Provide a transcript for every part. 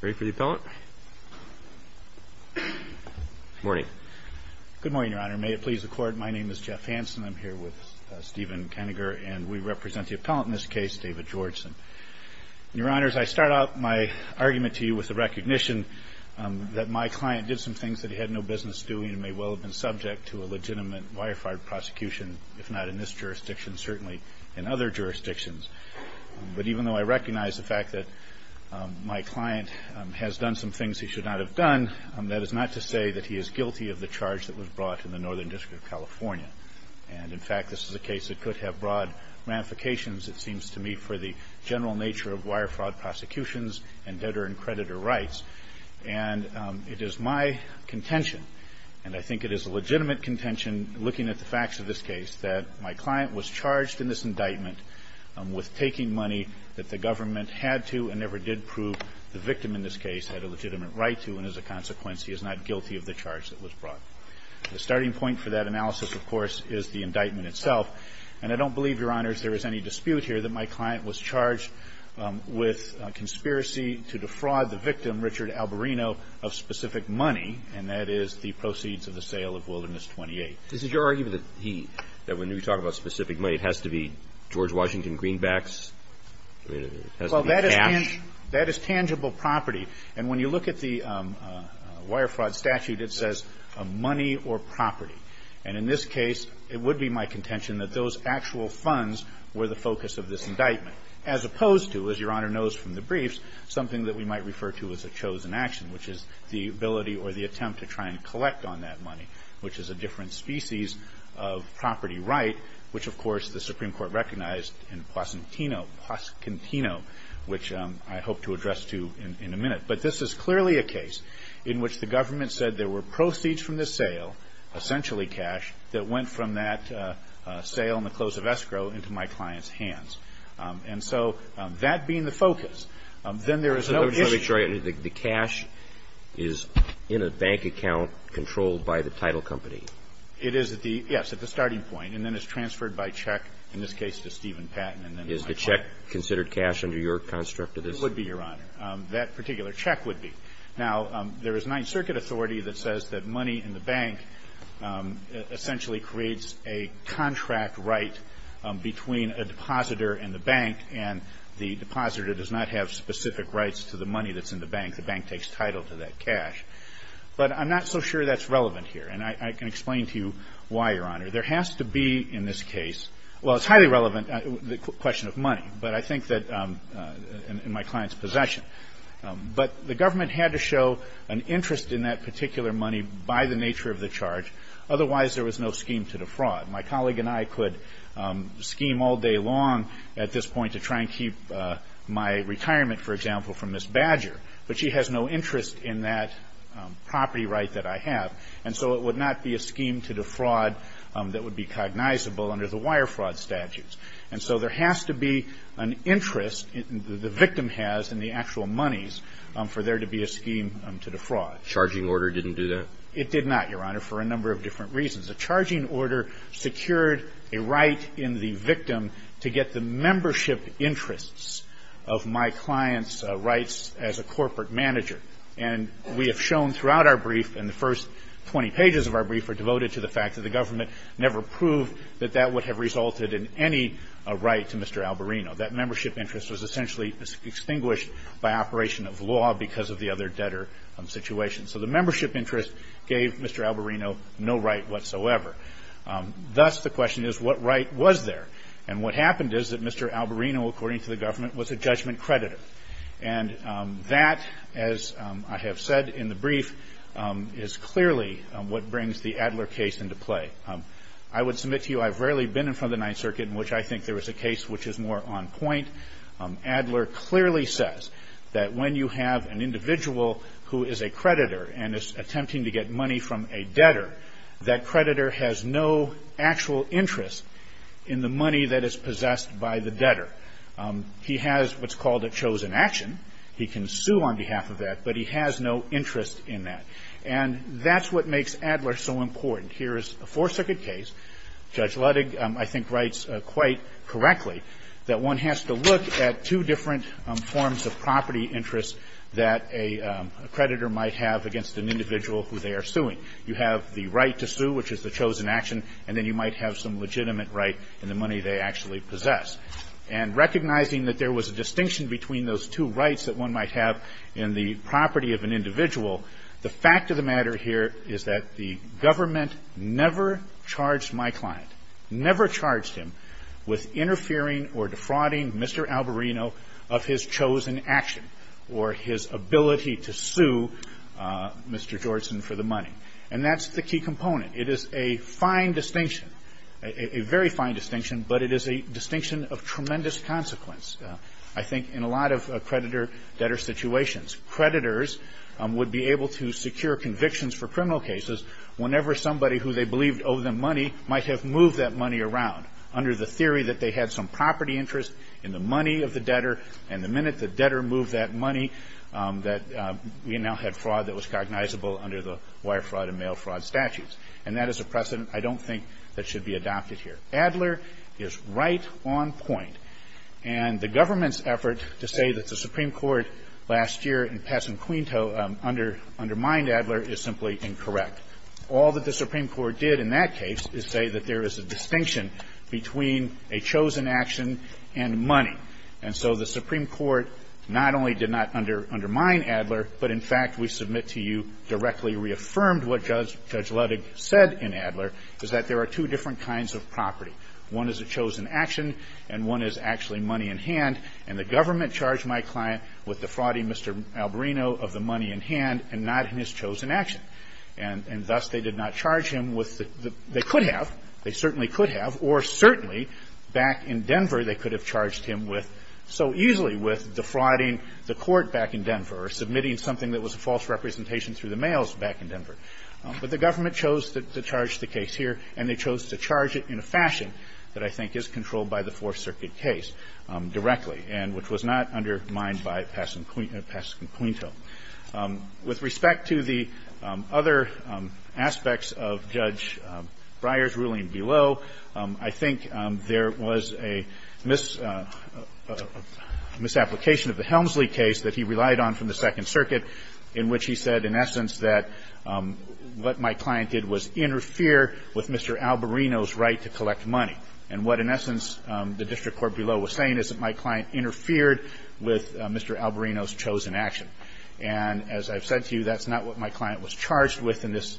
Good morning, your honor. May it please the court, my name is Jeff Hanson. I'm here with Stephen Keninger and we represent the appellant in this case, David Georgeson. Your honors, I start out my argument to you with the recognition that my client did some things that he had no business doing and may well have been subject to a legitimate wire-fired prosecution, if not in this jurisdiction, certainly in other jurisdictions. But even though I recognize the fact that my client has done some things he should not have done, that is not to say that he is guilty of the charge that was brought in the Northern District of California. And in fact, this is a case that could have broad ramifications, it seems to me, for the general nature of wire-fraud prosecutions and debtor and creditor rights. And it is my contention, and I think it is a legitimate contention, looking at the facts of this case, that my client was charged in this indictment with taking money that the government had to and never did prove the victim in this case had a legitimate right to, and as a consequence, he is not guilty of the charge that was brought. The starting point for that analysis, of course, is the indictment itself. And I don't believe, your honors, there is any dispute here that my client was charged with conspiracy to defraud the victim, Richard Alboreno, of specific money, and that is the proceeds of the sale of Wilderness 28. Is it your argument that he, that when we talk about specific money, it has to be George Washington Greenbacks? It has to be cash? Well, that is tangible property. And when you look at the wire-fraud statute, it says money or property. And in this case, it would be my contention that those actual funds were the focus of this indictment, as opposed to, as Your Honor knows from the briefs, something that we might refer to as a chosen action, which is the ability or the attempt to try and collect on that money, which is a different species of property right, which, of course, the Supreme Court recognized in Pasquantino, which I hope to address to you in a minute. But this is clearly a case in which the government said there were proceeds from the sale, essentially cash, that went from that sale on the close of escrow into my client's hands. And so that being the focus, then there is no issue. Mr. Wright, the cash is in a bank account controlled by the title company? It is at the yes, at the starting point. And then it's transferred by check, in this case, to Steven Patton. Is the check considered cash under your construct of this? It would be, Your Honor. That particular check would be. Now, there is Ninth Circuit authority that says that money in the bank essentially creates a contract right between a depositor and the bank, and the depositor does not have specific rights to the money that's in the bank. The bank takes title to that cash. But I'm not so sure that's relevant here. And I can explain to you why, Your Honor. There has to be, in this case, well, it's highly relevant, the question of money, but I think that in my client's possession. But the government had to show an interest in that particular money by the nature of the charge. Otherwise, there was no scheme to defraud. My colleague and I could scheme all day long at this point to try and keep my retirement, for example, from Ms. Badger, but she has no interest in that property right that I have. And so it would not be a scheme to defraud that would be cognizable under the wire fraud statutes. And so there has to be an interest, the victim has in the actual monies, for there to be a scheme to defraud. The charging order didn't do that? It did not, Your Honor, for a number of different reasons. The charging order secured a right in the victim to get the membership interests of my client's rights as a corporate manager. And we have shown throughout our brief, and the first 20 pages of our brief are devoted to the fact that the government never proved that that would have resulted in any right to Mr. Albarino. That membership interest was essentially extinguished by operation of law because of the other debtor situation. So the membership interest gave Mr. Albarino no right whatsoever. Thus, the question is, what right was there? And what happened is that Mr. Albarino, according to the government, was a judgment creditor. And that, as I have said in the brief, is clearly what brings the Adler case into play. I would submit to you, I've rarely been in front of the Ninth Circuit, in which I think there was a case which is more on point. Adler clearly says that when you have an accreditor and is attempting to get money from a debtor, that creditor has no actual interest in the money that is possessed by the debtor. He has what's called a chosen action. He can sue on behalf of that, but he has no interest in that. And that's what makes Adler so important. Here is a Fourth Circuit case. Judge Ludig, I think, writes quite correctly that one has to look at two different forms of property interest that a creditor might have against an individual who they are suing. You have the right to sue, which is the chosen action, and then you might have some legitimate right in the money they actually possess. And recognizing that there was a distinction between those two rights that one might have in the property of an individual, the fact of the matter here is that the government never charged my client, never charged him, with interfering or defrauding Mr. Albarino with the of his chosen action or his ability to sue Mr. Georgeson for the money. And that's the key component. It is a fine distinction, a very fine distinction, but it is a distinction of tremendous consequence, I think, in a lot of creditor-debtor situations. Creditors would be able to secure convictions for criminal cases whenever somebody who they believed owed them money might have moved that money around under the And the minute the debtor moved that money, that we now have fraud that was cognizable under the wire fraud and mail fraud statutes. And that is a precedent I don't think that should be adopted here. Adler is right on point. And the government's effort to say that the Supreme Court last year in Pasenquinto undermined Adler is simply incorrect. All that the Supreme Court did in that case is say that there is a distinction between a chosen action and money. And so the Supreme Court not only did not undermine Adler, but in fact, we submit to you, directly reaffirmed what Judge Ludwig said in Adler, is that there are two different kinds of property. One is a chosen action and one is actually money in hand. And the government charged my client with the frauding Mr. Albarino of the money in hand and not in his chosen action. And thus they did not charge him with the they could have, they certainly could have, or certainly, back in Denver, they could have charged him with, so easily, with defrauding the court back in Denver or submitting something that was a false representation through the mails back in Denver. But the government chose to charge the case here, and they chose to charge it in a fashion that I think is controlled by the Fourth Circuit case directly, and which was not undermined by Pasenquinto. With respect to the other aspects of Judge Breyer's claim below, I think there was a misapplication of the Helmsley case that he relied on from the Second Circuit, in which he said, in essence, that what my client did was interfere with Mr. Albarino's right to collect money. And what, in essence, the district court below was saying is that my client interfered with Mr. Albarino's chosen action. And as I've said to you, that's not what my client was charged with in this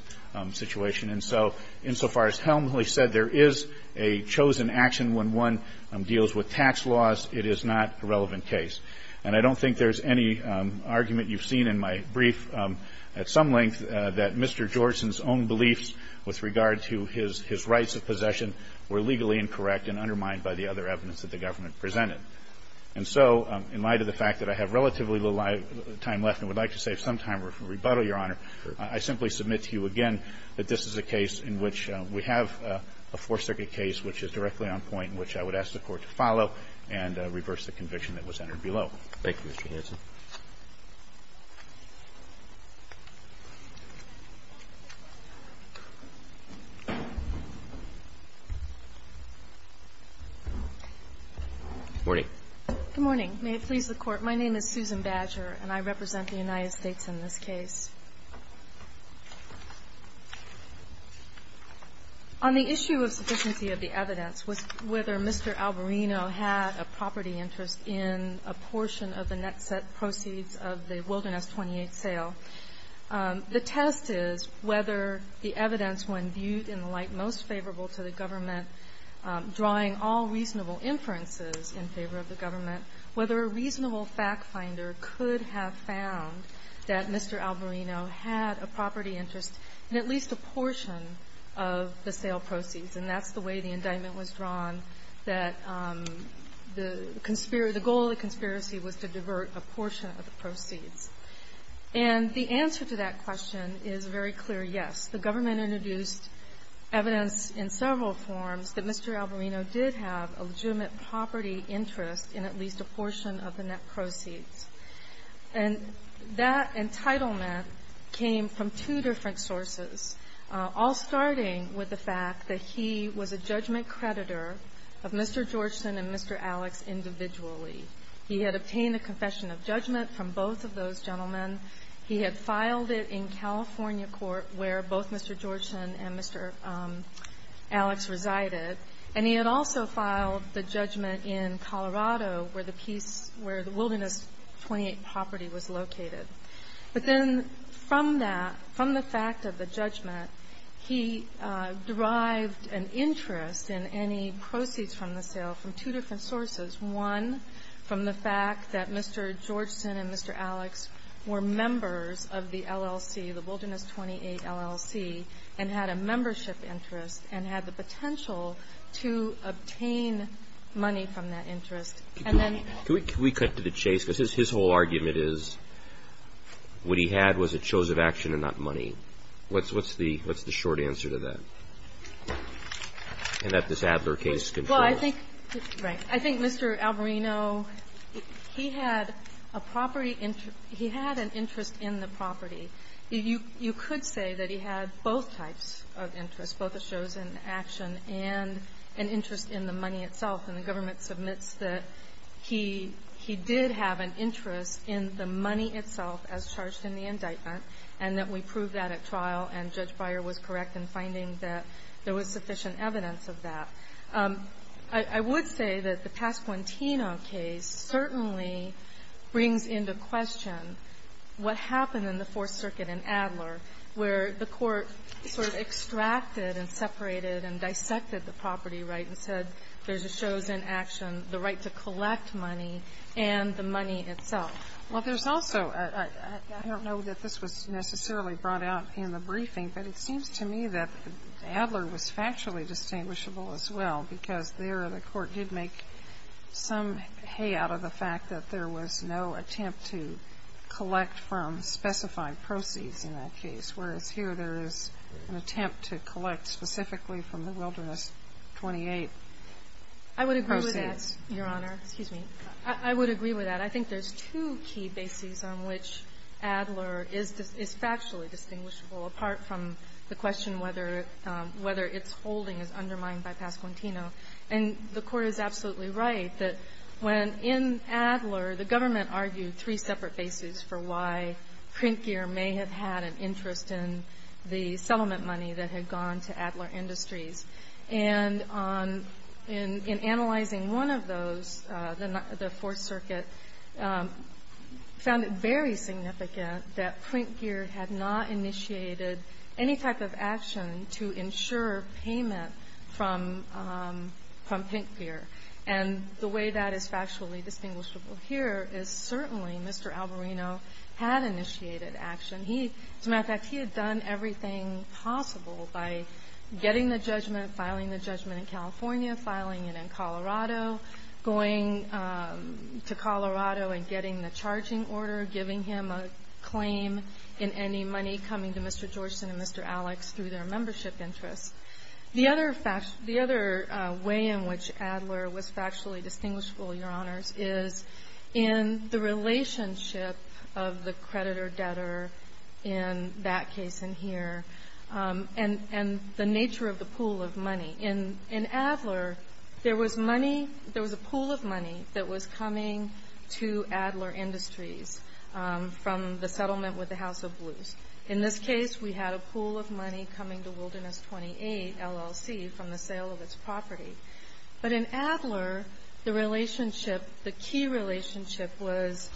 situation. And so, insofar as Helmsley said there is a chosen action when one deals with tax laws, it is not a relevant case. And I don't think there's any argument you've seen in my brief at some length that Mr. Georgeson's own beliefs with regard to his rights of possession were legally incorrect and undermined by the other evidence that the government presented. And so, in light of the fact that I have relatively little time left, and would like to save some time for rebuttal, Your Honor, I simply submit to you again that this is a case in which we have a Fourth Circuit case which is directly on point, in which I would ask the Court to follow and reverse the conviction that was entered below. Roberts. Thank you, Mr. Hanson. Good morning. Good morning. May it please the Court, my name is Susan Badger, and I represent the United States in this case. On the issue of sufficiency of the evidence, whether Mr. Albarino had a property interest in a portion of the net set proceeds of the Wilderness 28 sale, the test is whether the evidence, when viewed in the light most favorable to the government, drawing all reasonable inferences in favor of the government, whether a reasonable factfinder could have found that Mr. Albarino had a property interest in at least a portion of the sale proceeds. And that's the way the indictment was drawn, that the goal of the conspiracy was to divert a portion of the proceeds. And the answer to that question is a very clear yes. The government introduced evidence in several forms that Mr. Albarino did have a legitimate property interest in at least a portion of the net proceeds. And that entitlement came from two different sources, all starting with the fact that he was a judgment creditor of Mr. Georgeson and Mr. Alex individually. He had obtained a confession of judgment from both of those gentlemen. He had filed it in California court, where both Mr. Georgeson and Mr. Alex resided. And he had also filed the judgment in Colorado, where the piece, where the Wilderness 28 property was located. But then from that, from the fact of the judgment, he derived an interest in any proceeds from the sale from two different sources, one from the fact that Mr. Georgeson and Mr. Alex were members of the LLC, the Wilderness 28 LLC, and had a membership interest and had the potential to obtain money from that interest. And then the other one was that he was a judgment creditor of Mr. Georgeson and Mr. Alex. And then the other one was that he was a judgment creditor of Mr. Georgeson and Mr. Alex. So the property interest – he had an interest in the property. You could say that he had both types of interest, both a chosen action and an interest in the money itself. And the government submits that he did have an interest in the money itself as charged in the indictment, and that we proved that at trial, and Judge Beyer was correct in finding that there was sufficient evidence of that. I would say that the Pasquantino case certainly brings into question what happened in the Fourth Circuit in Adler, where the Court sort of extracted and separated and dissected the property right and said there's a chosen action, the right to collect money, and the money itself. Well, there's also – I don't know that this was necessarily brought out in the briefing, but it seems to me that Adler was factually distinguishable as well, because there the Court did make some hay out of the fact that there was no attempt to collect from specified proceeds in that case, whereas here there is an attempt to collect specifically from the Wilderness 28 proceeds. I would agree with that, Your Honor. Excuse me. I would agree with that. I think there's two key bases on which Adler is factually distinguishable apart from the question whether its holding is undermined by Pasquantino. And the Court is absolutely right that when in Adler, the government argued three separate bases for why Printgear may have had an interest in the settlement money that had gone to Adler Industries. And on – in analyzing one of those, the Fourth Circuit found it very significant that Printgear had not initiated any type of action to ensure payment from – from Printgear. And the way that is factually distinguishable here is certainly Mr. Albarino had initiated action. He – as a matter of fact, he had done everything possible by getting the judgment, filing the judgment in California, filing it in Colorado, going to Colorado and getting the charging order, giving him a claim in any money coming to Mr. Georgeson and Mr. Alex through their membership interests. The other fact – the other way in which Adler was factually distinguishable, Your Honors, is in the relationship of the creditor-debtor in that case in here and – and the nature of the pool of money. In – in Adler, there was money – there was a pool of money that was coming to Adler Industries from the settlement with the House of Blues. In this case, we had a pool of money coming to Wilderness 28, LLC, from the sale of its property. But in Adler, the relationship – the key relationship was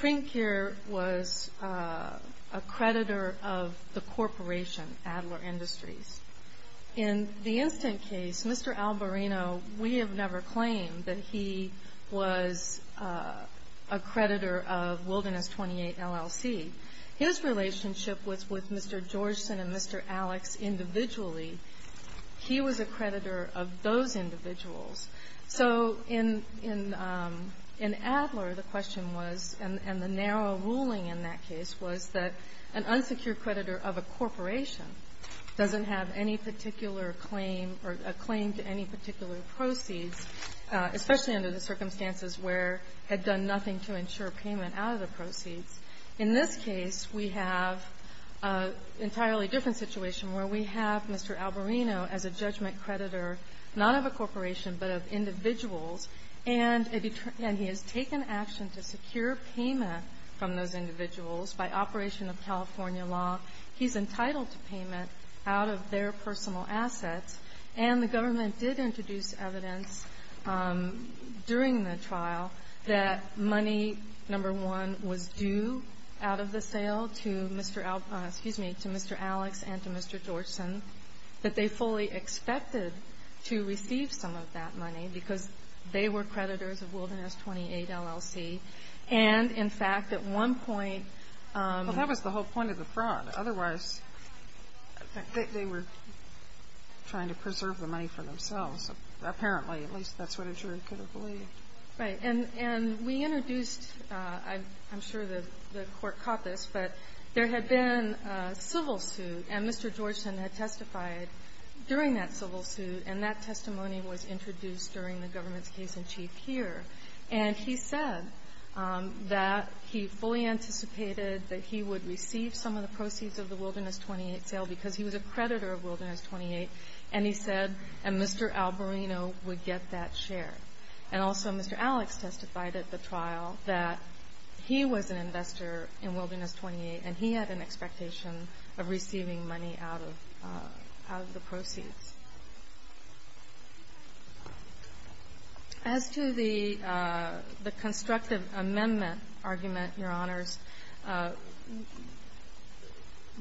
Printgear was a creditor of the corporation, Adler Industries. In the instant case, Mr. Alboreno, we have never claimed that he was a creditor of Wilderness 28, LLC. His relationship was with Mr. Georgeson and Mr. Alex individually. He was a creditor of those individuals. So in – in – in Adler, the question was – and the narrow ruling in that case was that an unsecured creditor of a corporation doesn't have any particular claim or a claim to any particular proceeds, especially under the circumstances where he had done nothing to ensure payment out of the proceeds. In this case, we have an entirely different situation where we have Mr. Alboreno as a judgment creditor, not of a corporation but of individuals, and a – and he has taken action to secure payment from those individuals by operation of California law. He's entitled to payment out of their personal assets. And the government did introduce evidence during the trial that money, number one, was due out of the sale to Mr. – excuse me, to Mr. Alex and to Mr. Georgeson, that they fully expected to receive some of that money because they were creditors of Wilderness 28 LLC. And, in fact, at one point – Well, that was the whole point of the fraud. Otherwise, they were trying to preserve the money for themselves. Apparently, at least that's what a jury could have believed. Right. And – and we introduced – I'm sure the court caught this, but there had been a civil suit, and Mr. Georgeson had testified during that civil suit, and that testimony was introduced during the government's case in chief here. And he said that he fully anticipated that he would receive some of the proceeds of the Wilderness 28 sale because he was a creditor of Wilderness 28, and he said, and Mr. Alboreno would get that share. And also, Mr. Alex testified at the trial that he was an investor in Wilderness 28, and he had an expectation of receiving money out of – out of the proceeds. As to the – the constructive amendment argument, Your Honors,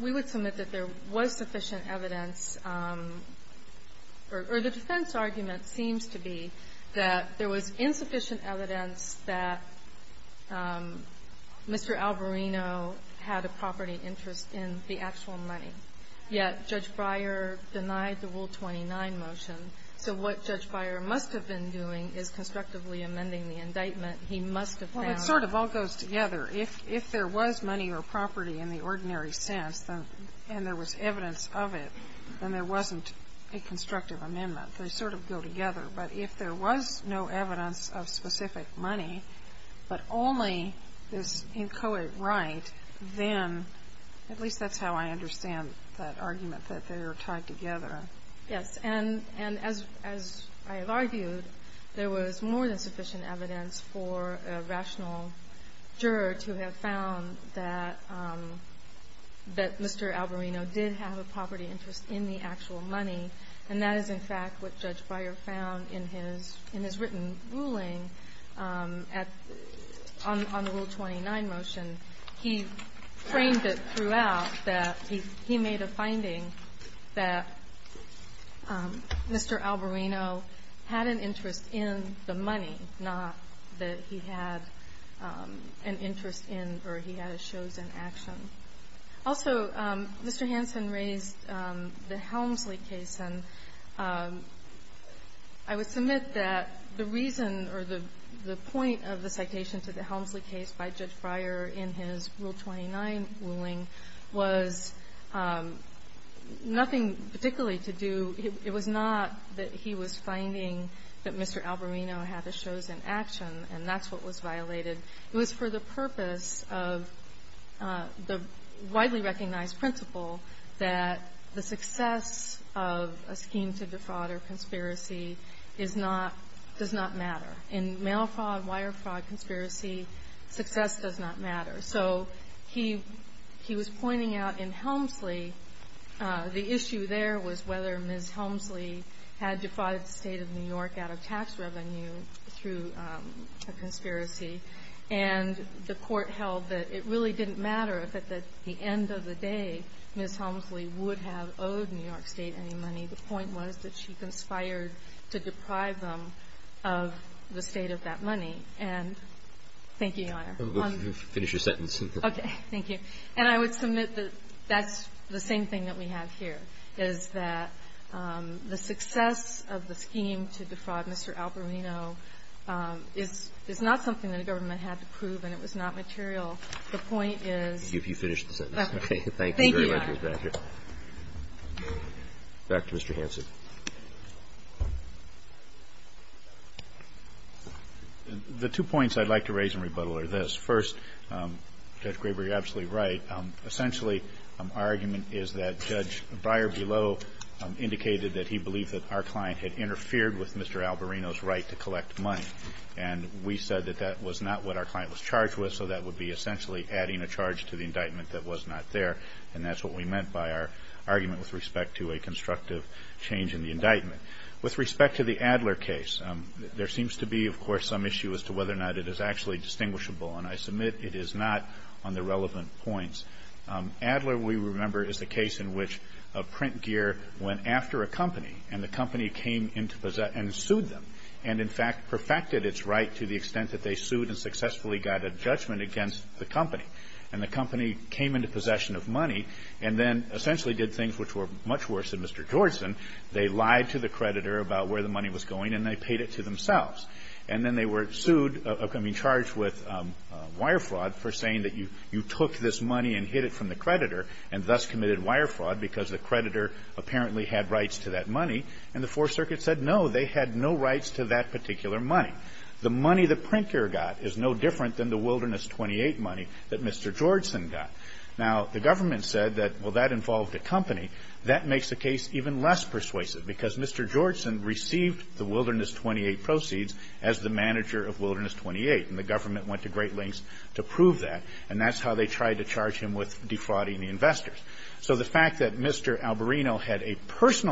we would submit that there was sufficient evidence – or the defense argument seems to be that there was insufficient evidence that Mr. Alboreno had a property interest in the Wilderness 29 motion. So what Judge Beyer must have been doing is constructively amending the indictment. He must have found – Well, it sort of all goes together. If – if there was money or property in the ordinary sense, and there was evidence of it, then there wasn't a constructive amendment. They sort of go together. But if there was no evidence of specific money, but only this inchoate right, then – at least that's how I understand that argument, that they are tied together. Yes. And – and as – as I have argued, there was more than sufficient evidence for a rational juror to have found that – that Mr. Alboreno did have a property interest in the actual money. And that is, in fact, what Judge Beyer found in his – in his written ruling at – on the Rule 29 motion. He framed it throughout that he – he made a finding that Mr. Alboreno had an interest in the money, not that he had an interest in or he had a chosen action. Also, Mr. Hanson raised the Helmsley case. And I would submit that the reason or the – the point of the citation to the Helmsley case by Judge Breyer in his Rule 29 ruling was nothing particularly to do – it was not that he was finding that Mr. Alboreno had a chosen action, and that's what was violated. It was for the purpose of the widely recognized principle that the success of a scheme to defraud or conspiracy is not – does not matter. In mail fraud, wire fraud, conspiracy, success does not matter. So he – he was pointing out in Helmsley, the issue there was whether Ms. Helmsley had defrauded the State of New York out of tax revenue through a conspiracy. And the Court held that it really didn't matter if at the end of the day Ms. Helmsley would have owed New York State any money. The point was that she conspired to deprive them of the State of that money. And thank you, Your Honor. Finish your sentence. Okay. Thank you. And I would submit that that's the same thing that we have here, is that the success of the scheme to defraud Mr. Alboreno is – is not something that a government had to prove, and it was not material. If you finish the sentence. Okay. Thank you, Your Honor. Thank you. Back to Mr. Hanson. The two points I'd like to raise in rebuttal are this. First, Judge Graber, you're absolutely right. Essentially, our argument is that Judge Breyer below indicated that he believed that our client had interfered with Mr. Alboreno's right to collect money. And we said that that was not what our client was charged with, so that would be essentially adding a charge to the indictment that was not there. And that's what we meant by our argument with respect to a constructive change in the indictment. With respect to the Adler case, there seems to be, of course, some issue as to whether or not it is actually distinguishable. And I submit it is not on the relevant points. Adler, we remember, is the case in which a print gear went after a company, and the company came into – and sued them, and, in fact, perfected its right to the extent that they sued and successfully got a judgment against the company. And the company came into possession of money and then essentially did things which were much worse than Mr. Georgeson. They lied to the creditor about where the money was going, and they paid it to themselves. And then they were sued – I mean, charged with wire fraud for saying that you took this money and hid it from the creditor and thus committed wire fraud because the creditor apparently had rights to that money. And the Fourth Circuit said, no, they had no rights to that particular money. The money the print gear got is no different than the Wilderness 28 money that Mr. Georgeson got. Now, the government said that, well, that involved a company. That makes the case even less persuasive because Mr. Georgeson received the Wilderness 28 proceeds as the manager of Wilderness 28, and the government went to great lengths to prove that. And that's how they tried to charge him with defrauding the investors. So the fact that Mr. Albarino never perfected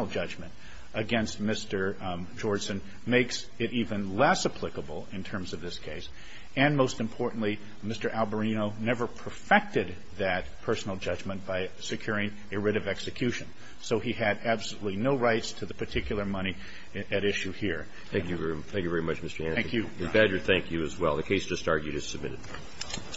that personal judgment by securing a writ of execution, so he had absolutely no rights to the particular money at issue here. Thank you. Thank you very much, Mr. Hansen. Thank you. And, Badger, thank you as well. The case just argued is submitted.